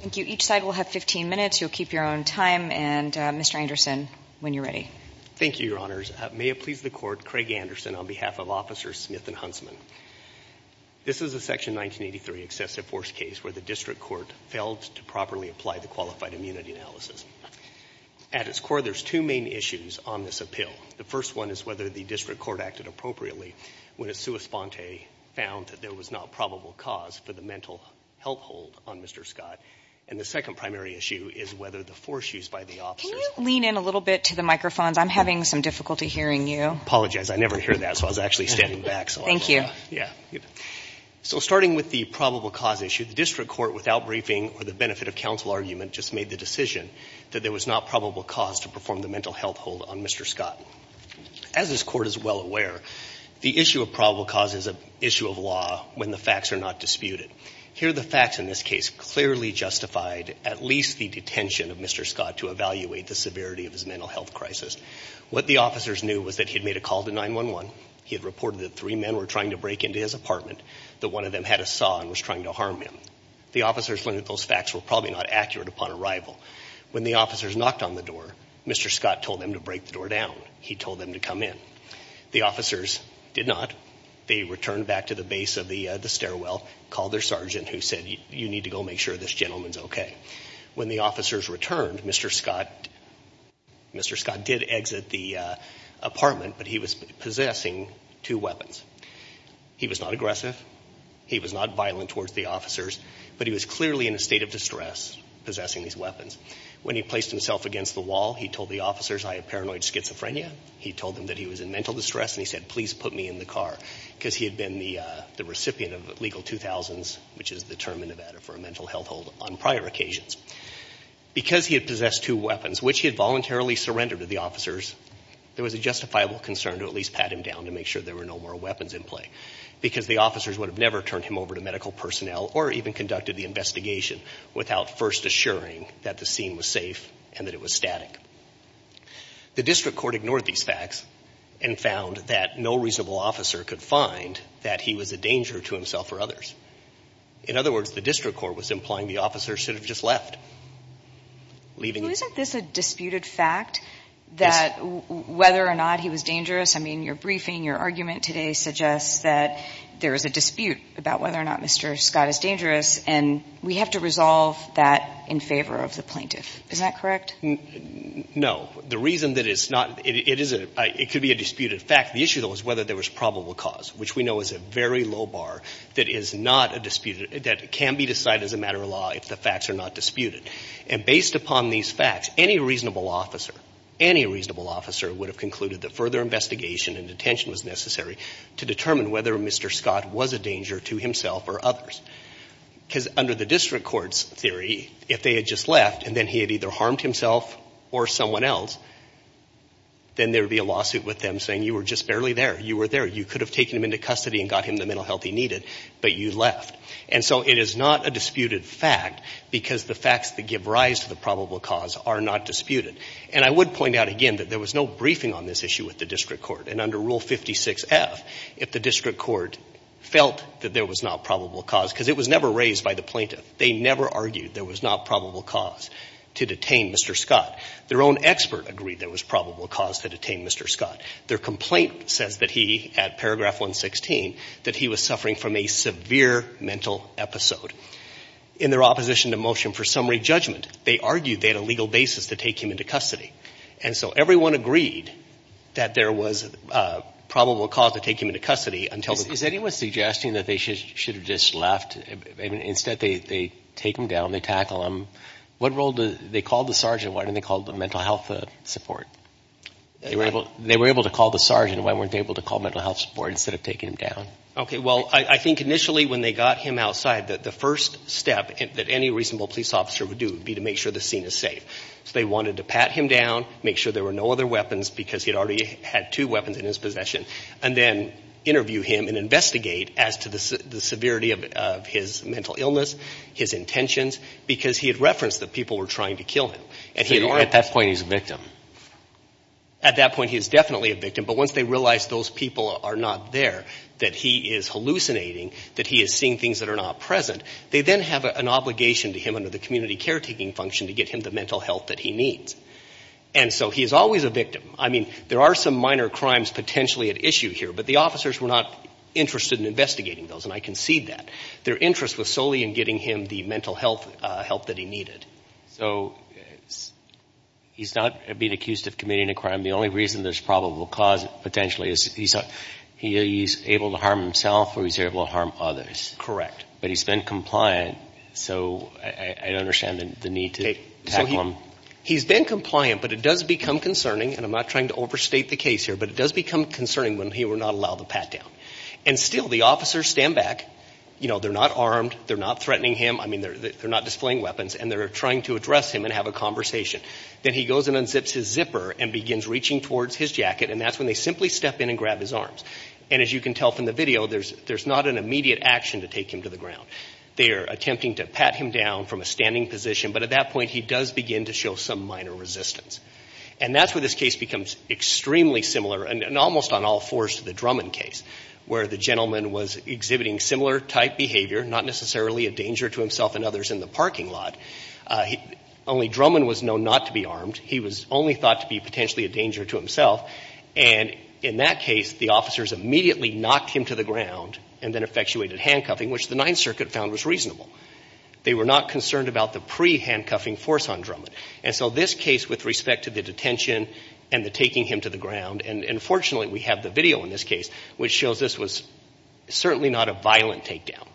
Thank you. Each side will have 15 minutes. You'll keep your own time. And Mr. Anderson, when you're ready. Thank you, Your Honors. May it please the Court, Craig Anderson on behalf of Officers Smith and Huntsman. This is a Section 1983 excessive force case where the district court failed to properly apply the qualified immunity analysis. At its core, there's two main issues on this appeal. The first one is whether the district court acted appropriately when a sua sponte found that there was not probable cause for the mental health hold on Mr. Scott. And the second primary issue is whether the force used by the officers... Can you lean in a little bit to the microphones? I'm having some difficulty hearing you. I apologize. I never hear that, so I was actually standing back. Thank you. Yeah. So starting with the probable cause issue, the district court, without briefing or the benefit of counsel argument, just made the decision that there was not probable cause to perform the mental health hold on Mr. Scott. As this court is well aware, the issue of probable cause is an issue of law when the facts are not disputed. Here, the facts in this case clearly justified at least the detention of Mr. Scott to evaluate the severity of his mental health crisis. What the officers knew was that he had made a call to 911. He had reported that three men were trying to break into his apartment, that one of them had a saw and was trying to harm him. The officers learned that those facts were probably not accurate upon arrival. When the officers knocked on the door, Mr. Scott told them to break the door down. He told them to come in. The officers did not. They returned back to the base of the stairwell, called their sergeant, who said, you need to go make sure this gentleman's okay. When the officers returned, Mr. Scott did exit the apartment, but he was possessing two weapons. He was not aggressive. He was not violent towards the officers. But he was clearly in a state of distress possessing these weapons. When he placed himself against the wall, he told the officers, I have paranoid schizophrenia. He told them that he was in mental distress, and he said, please put me in the car. Because he had been the recipient of legal 2000s, which is the term in Nevada for a mental health hold on prior occasions. Because he had possessed two weapons, which he had voluntarily surrendered to the officers, there was a justifiable concern to at least pat him down to make sure there were no more weapons in play. Because the officers would have never turned him over to medical personnel or even conducted the investigation without first assuring that the scene was safe and that it was static. The district court ignored these facts and found that no reasonable officer could find that he was a danger to himself or others. In other words, the district court was implying the officer should have just left, leaving. Isn't this a disputed fact that whether or not he was dangerous? Your briefing, your argument today suggests that there is a dispute about whether or not Mr. Scott is dangerous, and we have to resolve that in favor of the plaintiff. Is that correct? No. The reason that it's not, it could be a disputed fact. The issue, though, is whether there was probable cause, which we know is a very low bar that is not a disputed, that can be decided as a matter of law if the facts are not disputed. And based upon these facts, any reasonable officer, any reasonable officer would have concluded that further investigation and detention was necessary to determine whether Mr. Scott was a danger to himself or others. Because under the district court's theory, if they had just left and then he had either harmed himself or someone else, then there would be a lawsuit with them saying you were just barely there. You were there. You could have taken him into custody and got him the mental health he needed, but you left. And so it is not a disputed fact because the facts that give rise to the probable cause are not disputed. And I would point out again that there was no briefing on this issue with the district court. And under Rule 56F, if the district court felt that there was not probable cause, because it was never raised by the plaintiff, they never argued there was not probable cause to detain Mr. Scott. Their own expert agreed there was probable cause to detain Mr. Scott. Their complaint says that he, at paragraph 116, that he was suffering from a severe mental episode. In their opposition to motion for summary judgment, they argued they had a legal basis to take him into custody. And so everyone agreed that there was probable cause to take him into custody until the court... Is anyone suggesting that they should have just left? Instead, they take him down, they tackle him. They called the sergeant. Why didn't they call the mental health support? They were able to call the sergeant. Why weren't they able to call mental health support instead of taking him down? Okay. Well, I think initially when they got him outside, the first step that any reasonable police officer would do would be to make sure the scene is safe. So they wanted to pat him down, make sure there were no other weapons, because he had already had two weapons in his possession, and then interview him and investigate as to the severity of his mental illness, his intentions, because he had referenced that people were trying to kill him. And he had already... At that point, he's a victim. At that point, he's definitely a victim. But once they realize those people are not there, that he is hallucinating, that he is present, they then have an obligation to him under the community caretaking function to get him the mental health that he needs. And so he is always a victim. I mean, there are some minor crimes potentially at issue here, but the officers were not interested in investigating those, and I concede that. Their interest was solely in getting him the mental health help that he needed. So he's not being accused of committing a crime. The only reason there's probable cause, potentially, is he's able to harm himself or he's able to harm others. Correct. But he's been compliant, so I understand the need to tackle him. He's been compliant, but it does become concerning, and I'm not trying to overstate the case here, but it does become concerning when he will not allow the pat down. And still, the officers stand back. They're not armed. They're not threatening him. I mean, they're not displaying weapons, and they're trying to address him and have a conversation. Then he goes and unzips his zipper and begins reaching towards his jacket, and that's when they simply step in and grab his arms. And as you can tell from the video, there's not an immediate action to take him to the ground. They're attempting to pat him down from a standing position, but at that point, he does begin to show some minor resistance. And that's where this case becomes extremely similar, and almost on all fours, to the Drummond case, where the gentleman was exhibiting similar type behavior, not necessarily a danger to himself and others in the parking lot. Only Drummond was known not to be armed. He was only thought to be potentially a danger to himself, and in that case, the officers immediately knocked him to the ground and then effectuated handcuffing, which the Ninth Circuit found was reasonable. They were not concerned about the pre-handcuffing force on Drummond. And so this case, with respect to the detention and the taking him to the ground, and fortunately, we have the video in this case, which shows this was certainly not a violent takedown,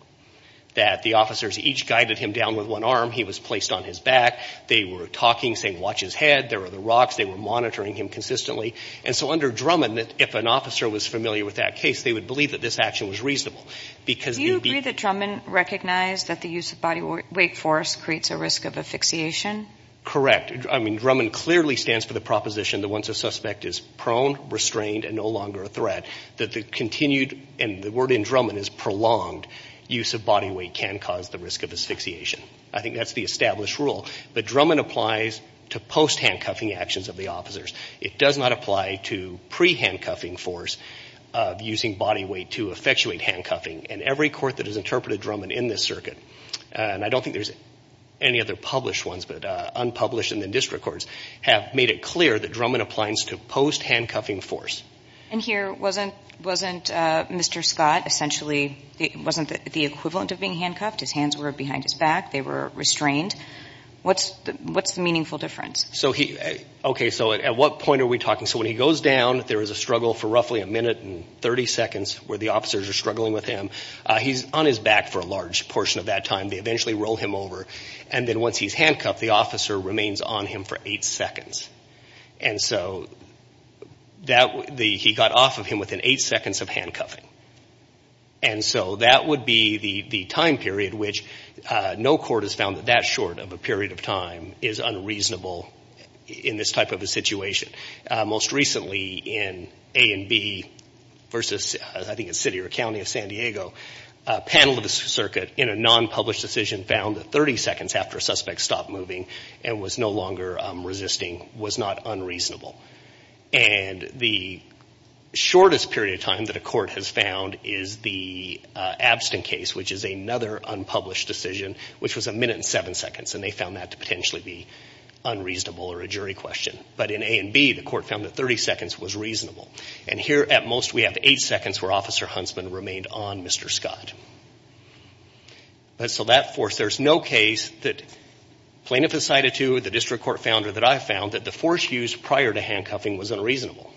that the officers each guided him down with one arm. He was placed on his back. They were talking, saying, watch his head. There were the rocks. They were monitoring him consistently. And so under Drummond, if an officer was familiar with that case, they would believe that this action was reasonable. Do you agree that Drummond recognized that the use of body weight force creates a risk of asphyxiation? Correct. I mean, Drummond clearly stands for the proposition that once a suspect is prone, restrained, and no longer a threat, that the continued, and the word in Drummond is prolonged, use of body weight can cause the risk of asphyxiation. I think that's the established rule. But Drummond applies to post-handcuffing actions of the officers. It does not apply to pre-handcuffing force of using body weight to effectuate handcuffing. And every court that has interpreted Drummond in this circuit, and I don't think there's any other published ones, but unpublished in the district courts, have made it clear that Drummond applies to post-handcuffing force. And here, wasn't Mr. Scott essentially, wasn't the equivalent of being handcuffed? His hands were behind his back. They were restrained. What's the meaningful difference? Okay, so at what point are we talking? So when he goes down, there is a struggle for roughly a minute and 30 seconds where the officers are struggling with him. He's on his back for a large portion of that time. They eventually roll him over. And then once he's handcuffed, the officer remains on him for eight seconds. And so he got off of him within eight seconds of handcuffing. And so that would be the time period which no court has found that that short of a period of time is unreasonable in this type of a situation. Most recently in A and B versus, I think it's city or county of San Diego, a panel of the circuit in a non-published decision found that 30 seconds after a suspect stopped moving and was no longer resisting was not unreasonable. And the shortest period of time that a court has found is the Abston case, which is another unpublished decision, which was a minute and seven seconds. And they found that to potentially be unreasonable or a jury question. But in A and B, the court found that 30 seconds was reasonable. And here at most, we have eight seconds where Officer Huntsman remained on Mr. Scott. So that force, there's no case that plaintiff has cited to the district court founder that I found that the force used prior to handcuffing was unreasonable.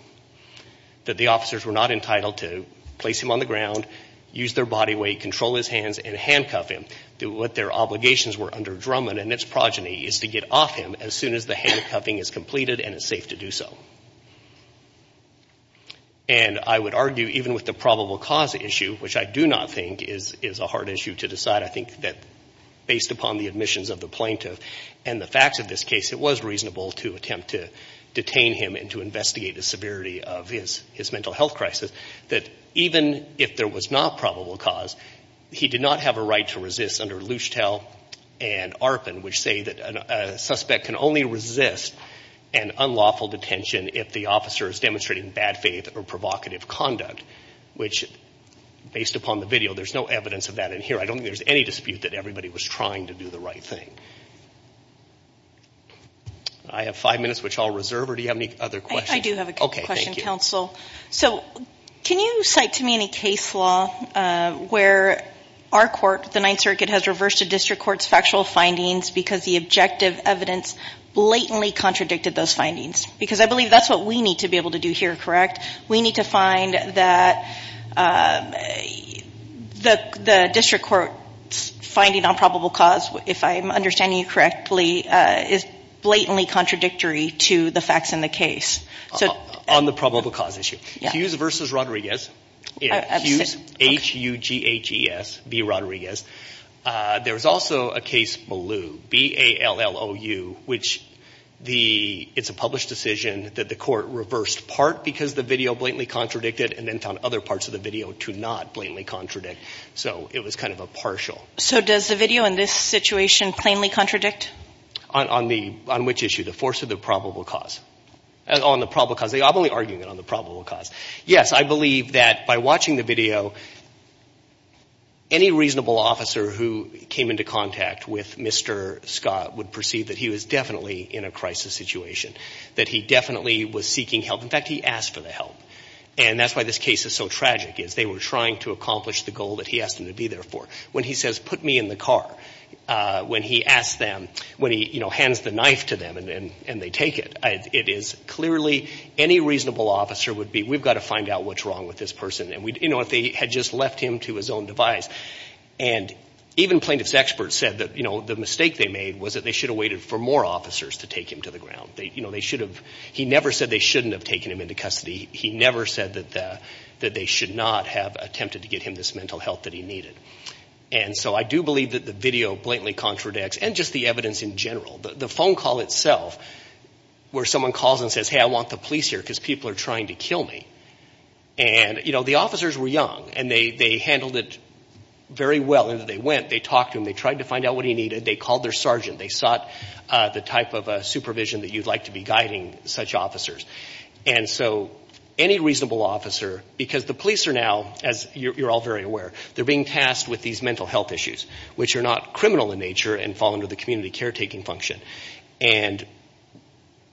That the officers were not entitled to place him on the ground, use their body weight, control his hands, and handcuff him. What their obligations were under Drummond and its progeny is to get off him as soon as the handcuffing is completed and it's safe to do so. And I would argue, even with the probable cause issue, which I do not think is a hard issue to decide, I think that based upon the admissions of the plaintiff and the facts of this case, it was reasonable to attempt to detain him and to investigate the severity of his mental health crisis. That even if there was not probable cause, he did not have a right to resist under Luschtel and Arpin, which say that a suspect can only resist an unlawful detention if the officer is demonstrating bad faith or provocative conduct. Which, based upon the video, there's no evidence of that in here. I don't think there's any dispute that everybody was trying to do the right thing. I have five minutes, which I'll reserve. Or do you have any other questions? I do have a question, counsel. Can you cite to me any case law where our court, the Ninth Circuit, has reversed a district court's factual findings because the objective evidence blatantly contradicted those findings? Because I believe that's what we need to be able to do here, correct? We need to find that the district court's finding on probable cause, if I'm understanding you correctly, is blatantly contradictory to the facts in the case. On the probable cause issue. Hughes v. Rodriguez. Hughes, H-U-G-H-E-S, v. Rodriguez. There was also a case, Malou, B-A-L-L-O-U, which it's a published decision that the court reversed part because the video blatantly contradicted and then found other parts of the video to not blatantly contradict. So it was kind of a partial. So does the video in this situation plainly contradict? On which issue? The force of the probable cause. On the probable cause. I'm only arguing it on the probable cause. Yes, I believe that by watching the video, any reasonable officer who came into contact with Mr. Scott would perceive that he was definitely in a crisis situation, that he definitely was seeking help. In fact, he asked for the help. And that's why this case is so tragic, is they were trying to accomplish the goal that he asked them to be there for. When he says, put me in the car, when he asks them, when he, you know, hands the knife to and they take it, it is clearly any reasonable officer would be, we've got to find out what's wrong with this person. And we, you know, if they had just left him to his own device and even plaintiff's experts said that, you know, the mistake they made was that they should have waited for more officers to take him to the ground. They, you know, they should have, he never said they shouldn't have taken him into custody. He never said that the, that they should not have attempted to get him this mental health that he needed. And so I do believe that the video blatantly contradicts and just the evidence in general, the phone call itself where someone calls and says, hey, I want the police here because people are trying to kill me. And, you know, the officers were young and they handled it very well. And they went, they talked to him, they tried to find out what he needed. They called their sergeant. They sought the type of supervision that you'd like to be guiding such officers. And so any reasonable officer, because the police are now, as you're all very aware, they're being tasked with these mental health issues, which are not criminal in nature and fall under the community caretaking function. And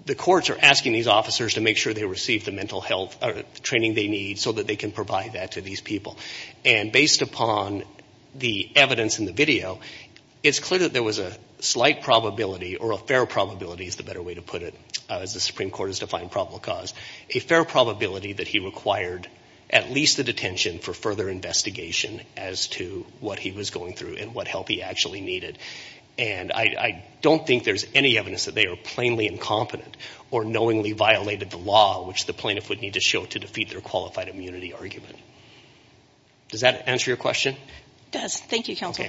the courts are asking these officers to make sure they receive the mental health training they need so that they can provide that to these people. And based upon the evidence in the video, it's clear that there was a slight probability or a fair probability is the better way to put it, as the Supreme Court has defined probable cause, a fair probability that he required at least the detention for further investigation as to what he was going through and what help he actually needed. And I don't think there's any evidence that they are plainly incompetent or knowingly violated the law, which the plaintiff would need to show to defeat their qualified immunity argument. Does that answer your question? It does. Thank you, Counselor.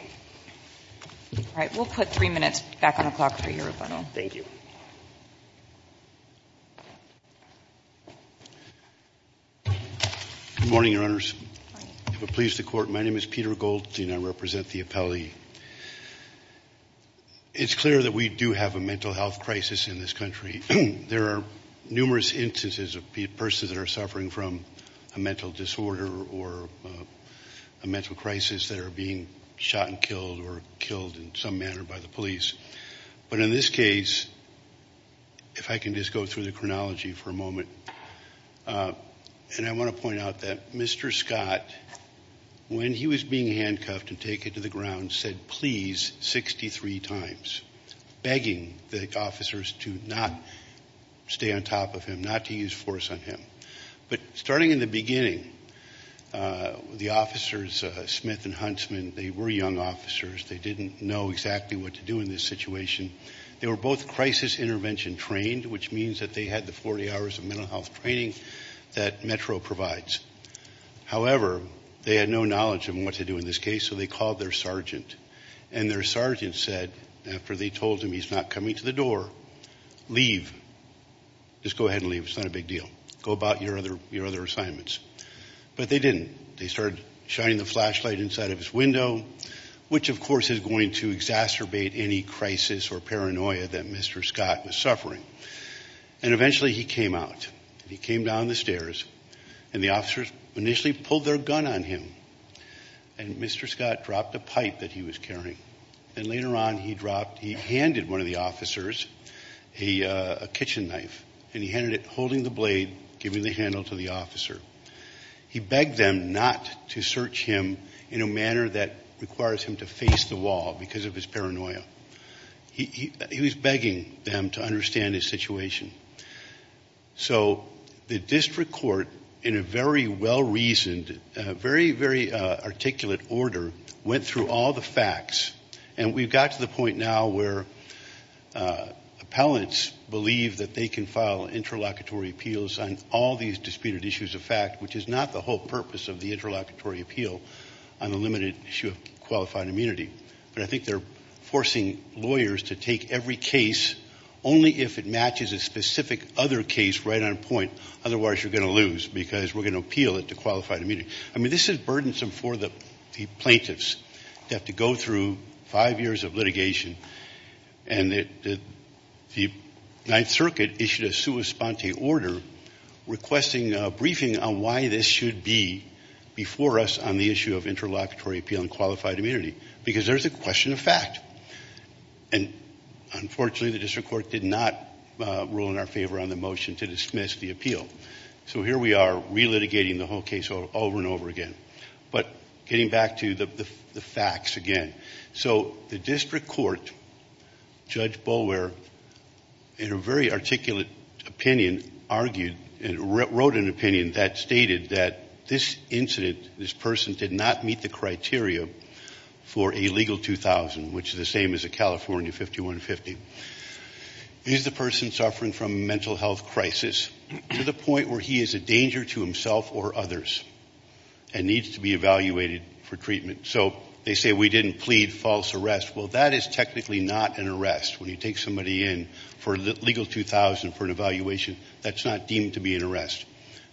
All right. We'll put three minutes back on the clock for your rebuttal. Thank you. Good morning, Your Honors. If it pleases the Court, my name is Peter Goldstein. I represent the appellee. It's clear that we do have a mental health crisis in this country. There are numerous instances of persons that are suffering from a mental disorder or a mental crisis that are being shot and killed or killed in some manner by the police. But in this case, if I can just go through the chronology for a moment, and I want to take it to the ground, said please 63 times, begging the officers to not stay on top of him, not to use force on him. But starting in the beginning, the officers, Smith and Huntsman, they were young officers. They didn't know exactly what to do in this situation. They were both crisis intervention trained, which means that they had the 40 hours of mental health training that Metro provides. However, they had no knowledge of what to do in this case, so they called their sergeant. And their sergeant said, after they told him he's not coming to the door, leave. Just go ahead and leave. It's not a big deal. Go about your other assignments. But they didn't. They started shining the flashlight inside of his window, which of course is going to exacerbate any crisis or paranoia that Mr. Scott was suffering. And eventually, he came out. He came down the stairs, and the officers initially pulled their gun on him, and Mr. Scott dropped a pipe that he was carrying. And later on, he dropped, he handed one of the officers a kitchen knife, and he handed it, holding the blade, giving the handle to the officer. He begged them not to search him in a manner that requires him to face the wall because of his paranoia. He was begging them to understand his situation. So the district court, in a very well-reasoned, very, very articulate order, went through all the facts, and we've got to the point now where appellants believe that they can file interlocutory appeals on all these disputed issues of fact, which is not the whole purpose of the interlocutory appeal on the limited issue of qualified immunity. But I think they're forcing lawyers to take every case only if it matches a specific other case right on point. Otherwise, you're going to lose because we're going to appeal it to qualified immunity. I mean, this is burdensome for the plaintiffs to have to go through five years of litigation. And the Ninth Circuit issued a sua sponte order requesting a briefing on why this should be before us on the issue of interlocutory appeal and qualified immunity, because there's a question of fact. And unfortunately, the district court did not rule in our favor on the motion to dismiss the appeal. So here we are, relitigating the whole case over and over again. But getting back to the facts again, so the district court, Judge Boulware, in a very This incident, this person did not meet the criteria for a legal 2000, which is the same as a California 5150. He's the person suffering from a mental health crisis to the point where he is a danger to himself or others and needs to be evaluated for treatment. So they say we didn't plead false arrest. Well, that is technically not an arrest. When you take somebody in for legal 2000 for an evaluation, that's not deemed to be an arrest.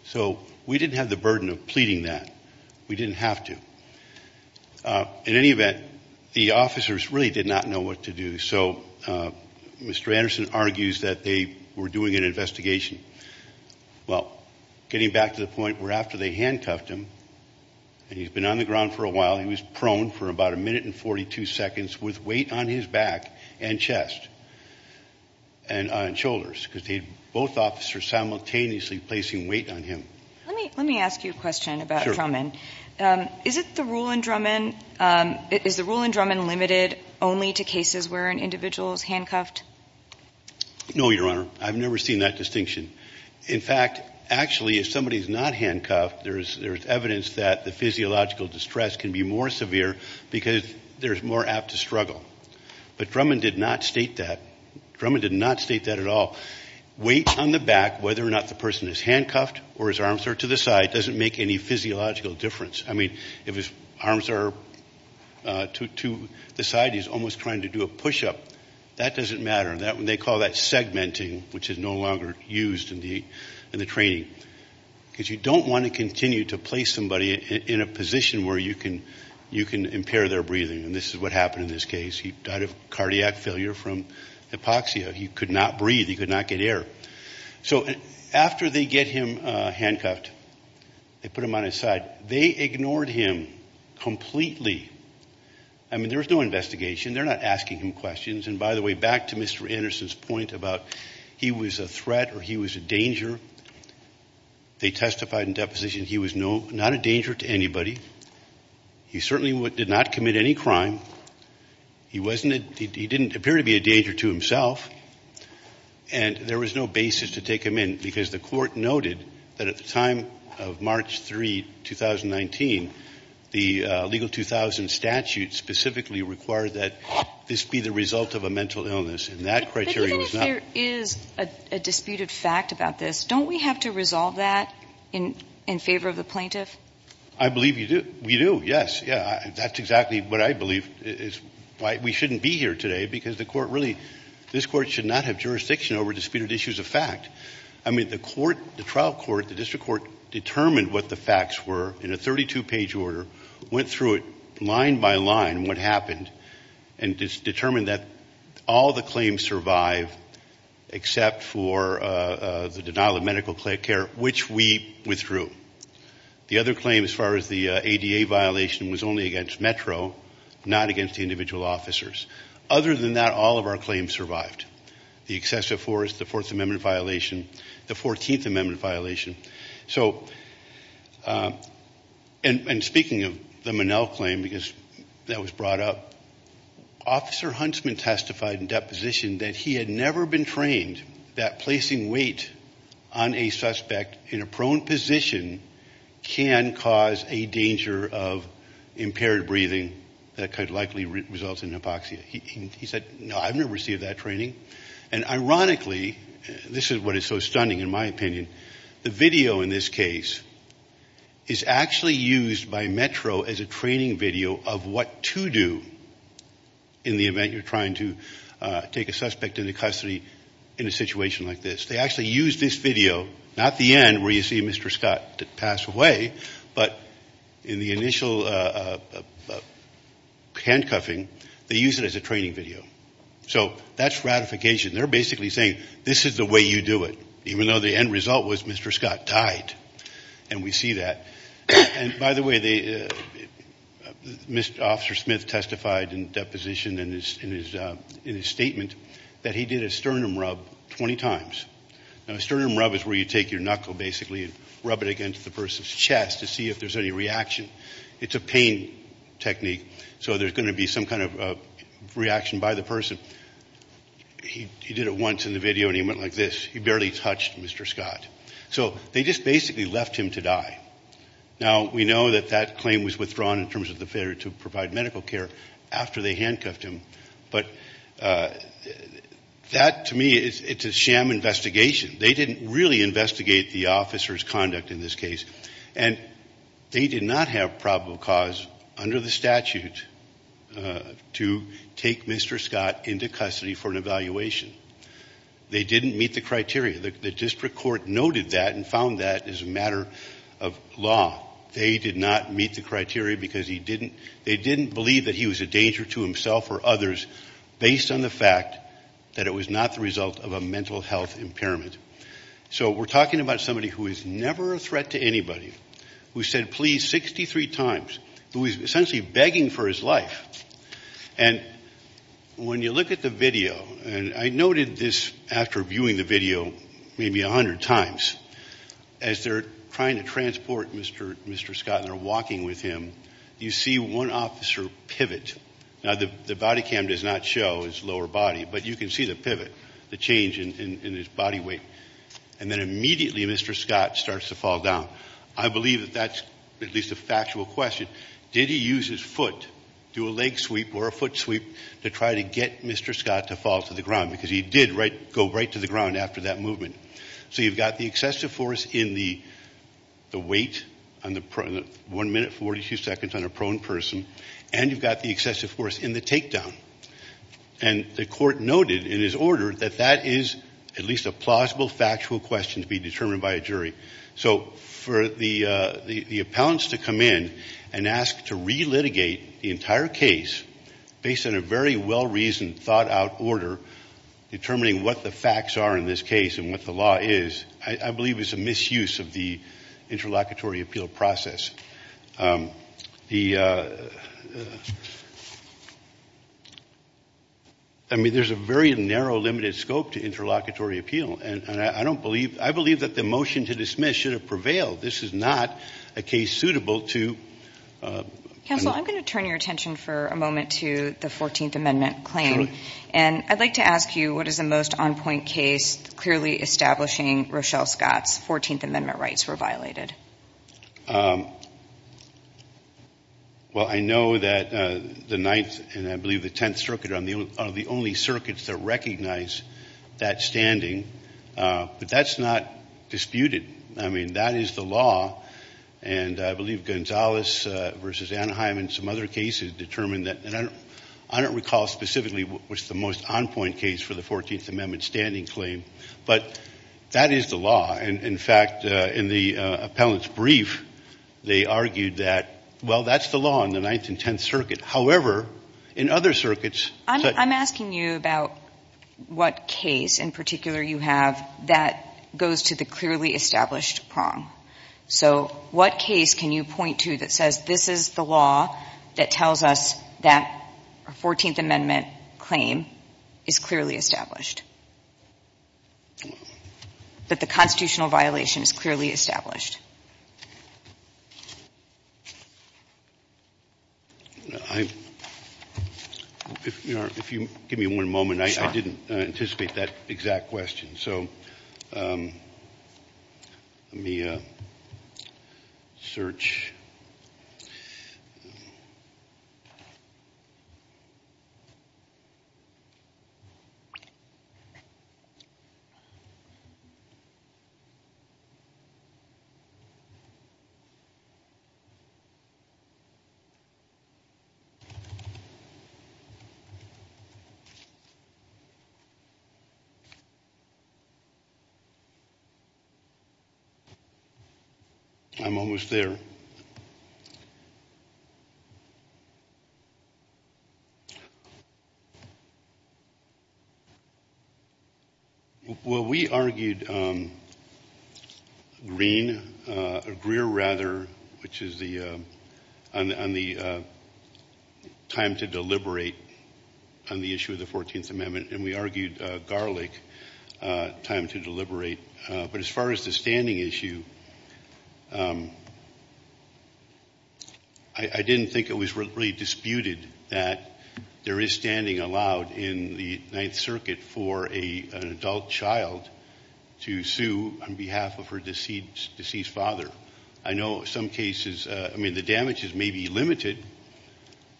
So we didn't have the burden of pleading that. We didn't have to. In any event, the officers really did not know what to do. So Mr. Anderson argues that they were doing an investigation. Well, getting back to the point where after they handcuffed him and he's been on the ground for a while, he was prone for about a minute and 42 seconds with weight on his back and chest and shoulders because they both officers simultaneously placing weight on him. Let me let me ask you a question about Drummond. Is it the rule in Drummond, is the rule in Drummond limited only to cases where an individual is handcuffed? No, Your Honor. I've never seen that distinction. In fact, actually, if somebody is not handcuffed, there's there's evidence that the physiological distress can be more severe because there's more apt to struggle. But Drummond did not state that. Drummond did not state that at all. Weight on the back, whether or not the person is handcuffed or his arms are to the side, doesn't make any physiological difference. I mean, if his arms are to the side, he's almost trying to do a push up. That doesn't matter. They call that segmenting, which is no longer used in the in the training because you don't want to continue to place somebody in a position where you can impair their breathing. And this is what happened in this case. He died of cardiac failure from hypoxia. He could not breathe. He could not get air. So after they get him handcuffed, they put him on his side. They ignored him completely. I mean, there was no investigation. They're not asking him questions. And by the way, back to Mr. Anderson's point about he was a threat or he was a danger. They testified in deposition. He was not a danger to anybody. He certainly did not commit any crime. He wasn't he didn't appear to be a danger to himself. And there was no basis to take him in because the court noted that at the time of March 3, 2019, the legal 2000 statute specifically required that this be the result of a mental illness. And that criteria is a disputed fact about this. Don't we have to resolve that in in favor of the plaintiff? I believe you do. We do. Yes. Yeah, that's exactly what I believe is why we shouldn't be here today, because the court really this court should not have jurisdiction over disputed issues of fact. I mean, the court, the trial court, the district court determined what the facts were in a 32 page order, went through it line by line, what happened and determined that all the claims survive except for the denial of medical care, which we withdrew. The other claim, as far as the ADA violation, was only against Metro, not against the individual officers. Other than that, all of our claims survived. The excessive force, the Fourth Amendment violation, the 14th Amendment violation. So and speaking of the Monell claim, because that was brought up, Officer Huntsman testified in deposition that he had never been trained that placing weight on a suspect in a prone position can cause a danger of impaired breathing that could likely result in hypoxia. He said, no, I've never received that training. And ironically, this is what is so stunning in my opinion, the video in this case is actually used by Metro as a training video of what to do in the event you're trying to take a suspect into custody in a situation like this. They actually use this video, not the end where you see Mr. Scott pass away, but in the initial handcuffing, they use it as a training video. So that's ratification. They're basically saying, this is the way you do it, even though the end result was Mr. Scott died. And we see that. And by the way, Officer Smith testified in deposition in his statement that he did a sternum rub is where you take your knuckle basically and rub it against the person's chest to see if there's any reaction. It's a pain technique. So there's going to be some kind of reaction by the person. He did it once in the video and he went like this. He barely touched Mr. Scott. So they just basically left him to die. Now, we know that that claim was withdrawn in terms of the failure to provide medical care after they handcuffed him. But that to me, it's a sham investigation. They didn't really investigate the officer's conduct in this case. And they did not have probable cause under the statute to take Mr. Scott into custody for an evaluation. They didn't meet the criteria. The district court noted that and found that as a matter of law. They did not meet the criteria because they didn't believe that he was a danger to himself or others based on the fact that it was not the result of a mental health impairment. So we're talking about somebody who is never a threat to anybody, who said please 63 times, who is essentially begging for his life. And when you look at the video, and I noted this after viewing the video maybe 100 times, as they're trying to transport Mr. Scott and they're walking with him, you see one officer pivot. Now the body cam does not show his lower body, but you can see the pivot, the change in his body weight. And then immediately Mr. Scott starts to fall down. I believe that that's at least a factual question. Did he use his foot, do a leg sweep or a foot sweep to try to get Mr. Scott to fall to the ground? Because he did go right to the ground after that movement. So you've got the excessive force in the weight on the one minute 42 seconds on a prone person. And you've got the excessive force in the takedown. And the court noted in his order that that is at least a plausible factual question to be determined by a jury. So for the appellants to come in and ask to re-litigate the entire case based on a very well-reasoned, thought-out order determining what the facts are in this case and what the law is, I believe is a misuse of the interlocutory appeal process. I mean, there's a very narrow, limited scope to interlocutory appeal. And I don't believe, I believe that the motion to dismiss should have prevailed. This is not a case suitable to... Counsel, I'm going to turn your attention for a moment to the 14th Amendment claim. And I'd like to ask you, what is the most on-point case clearly establishing Rochelle Scott's 14th Amendment rights were violated? Well, I know that the Ninth and I believe the Tenth Circuit are the only circuits that recognize that standing. But that's not disputed. I mean, that is the law. And I believe Gonzalez v. Anaheim and some other cases determined that. And I don't recall specifically what was the most on-point case for the 14th Amendment standing claim. But that is the law. In fact, in the appellant's brief, they argued that, well, that's the law in the Ninth and Tenth Circuit. However, in other circuits... I'm asking you about what case in particular you have that goes to the clearly established prong. So what case can you point to that says, this is the law that tells us that a 14th Amendment claim is clearly established? That the constitutional violation is clearly established? If you give me one moment, I didn't anticipate that exact question. So let me search. I'm almost there. Well, we argued Greer, which is on the time to deliberate on the issue of the 14th Amendment. And we argued Garlick, time to deliberate. But as far as the standing issue, I didn't think it was really disputed that there is standing allowed in the Ninth Circuit for an adult child to sue on behalf of her deceased father. I know some cases, I mean, the damage is maybe limited.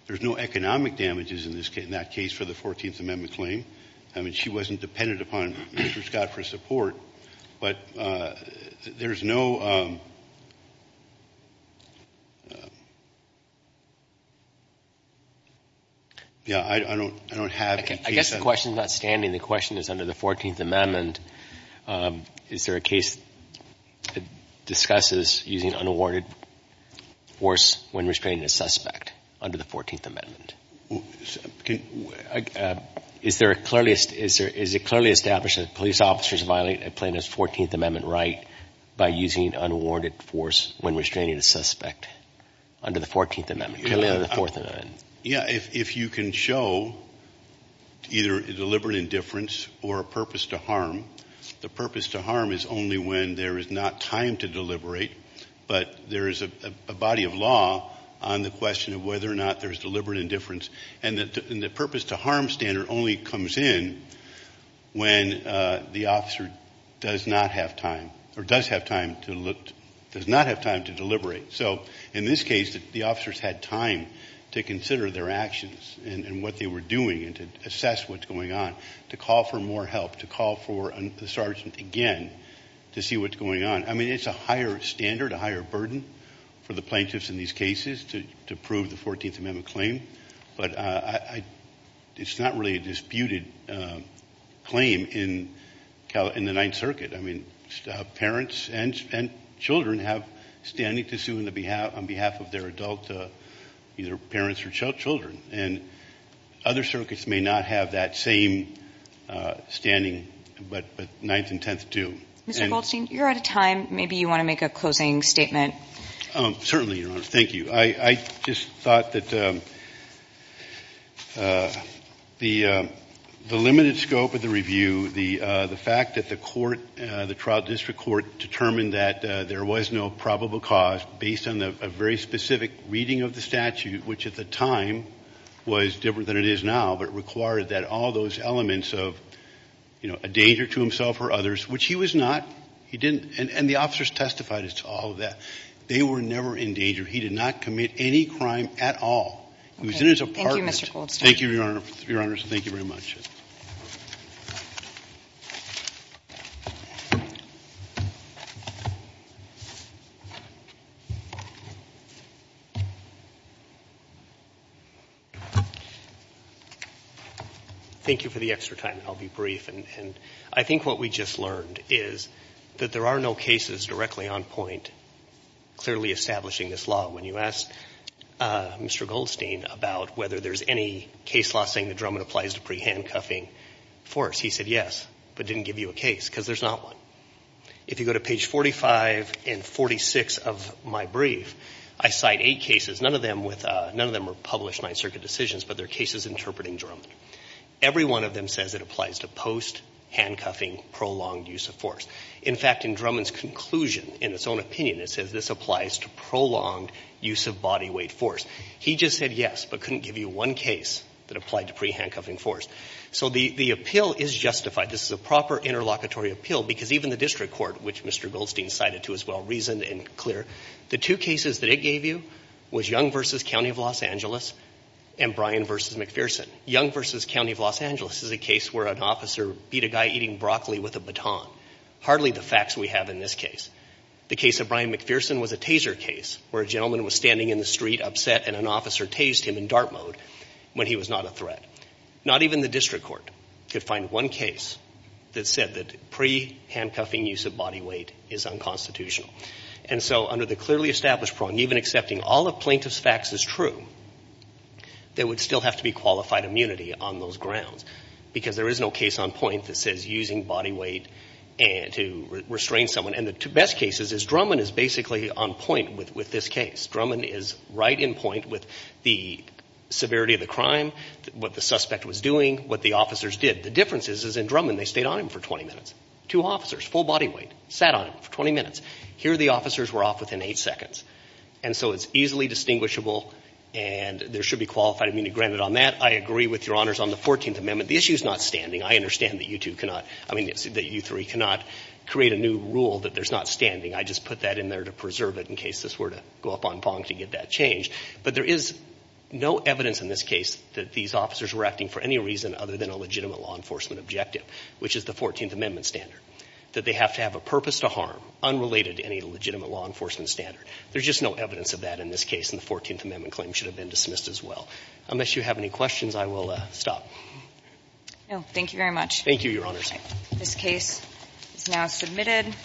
There's no economic damages in that case for the 14th Amendment claim. She wasn't dependent upon Mr. Scott for support. But there's no... Yeah, I don't have a case... I guess the question is not standing. The question is under the 14th Amendment, is there a case that discusses using unawarded force when restraining a suspect under the 14th Amendment? Is it clearly established that police officers violate a plaintiff's 14th Amendment right by using unwarded force when restraining a suspect under the 14th Amendment? Clearly under the 14th Amendment. Yeah, if you can show either a deliberate indifference or a purpose to harm, the purpose to harm is only when there is not time to deliberate, but there is a body of law on the question of whether or not there's deliberate indifference. And the purpose to harm standard only comes in when the officer does not have time or does have time to look... Does not have time to deliberate. So in this case, the officers had time to consider their actions and what they were doing and to assess what's going on, to call for more help, to call for the sergeant again to see what's going on. It's a higher standard, a higher burden for the plaintiffs in these cases to prove the 14th Amendment claim, but it's not really a disputed claim in the Ninth Circuit. Parents and children have standing to sue on behalf of their adult, either parents or children, and other circuits may not have that same standing, but Ninth and Tenth do. Mr. Goldstein, you're out of time. Maybe you want to make a closing statement. Certainly, Your Honor. Thank you. I just thought that the limited scope of the review, the fact that the court, the trial district court determined that there was no probable cause based on a very specific reading of the statute, which at the time was different than it is now, but required that all those elements of, you know, a danger to himself or others, which he was not, he didn't, and the officers testified as to all of that. They were never in danger. He did not commit any crime at all. He was in his apartment. Thank you, Mr. Goldstein. Thank you, Your Honor. Your Honors, thank you very much. Thank you for the extra time. I'll be brief. And I think what we just learned is that there are no cases directly on point clearly establishing this law. When you asked Mr. Goldstein about whether there's any case law saying that Drummond applies to pre-handcuffing force, he said yes, but didn't give you a case, because there's not one. If you go to page 45 and 46 of my brief, I cite eight cases. None of them with, none of them were published Ninth Circuit decisions, but they're cases interpreting Drummond. Every one of them says it applies to post-handcuffing prolonged use of force. In fact, in Drummond's conclusion, in his own opinion, it says this applies to prolonged use of body weight force. He just said yes, but couldn't give you one case that applied to pre-handcuffing force. So the appeal is justified. This is a proper interlocutory appeal, because even the district court, which Mr. Goldstein cited to as well, reasoned and clear, the two cases that it gave you was Young v. County of Los Angeles and Bryan v. McPherson. Young v. County of Los Angeles is a case where an officer beat a guy eating broccoli with a baton. Hardly the facts we have in this case. The case of Bryan McPherson was a taser case where a gentleman was standing in the street upset and an officer tased him in dart mode when he was not a threat. Not even the district court could find one case that said that pre-handcuffing use of body weight is unconstitutional. And so under the clearly established prong, even accepting all the plaintiff's facts is true, there would still have to be qualified immunity on those grounds. Because there is no case on point that says using body weight to restrain someone. And the best cases is Drummond is basically on point with this case. Drummond is right in point with the severity of the crime, what the suspect was doing, what the officers did. The difference is in Drummond, they stayed on him for 20 minutes. Two officers, full body weight, sat on him for 20 minutes. Here the officers were off within eight seconds. And so it's easily distinguishable and there should be qualified immunity granted on that. I agree with Your Honors on the 14th Amendment. The issue is not standing. I understand that you two cannot, I mean, that you three cannot create a new rule that there's not standing. I just put that in there to preserve it in case this were to go up on prong to get that changed. But there is no evidence in this case that these officers were acting for any reason other than a legitimate law enforcement objective, which is the 14th Amendment standard. That they have to have a purpose to harm unrelated to any legitimate law enforcement standard. There's just no evidence of that in this case. And the 14th Amendment claim should have been dismissed as well. Unless you have any questions, I will stop. No. Thank you very much. Thank you, Your Honors. This case is now submitted.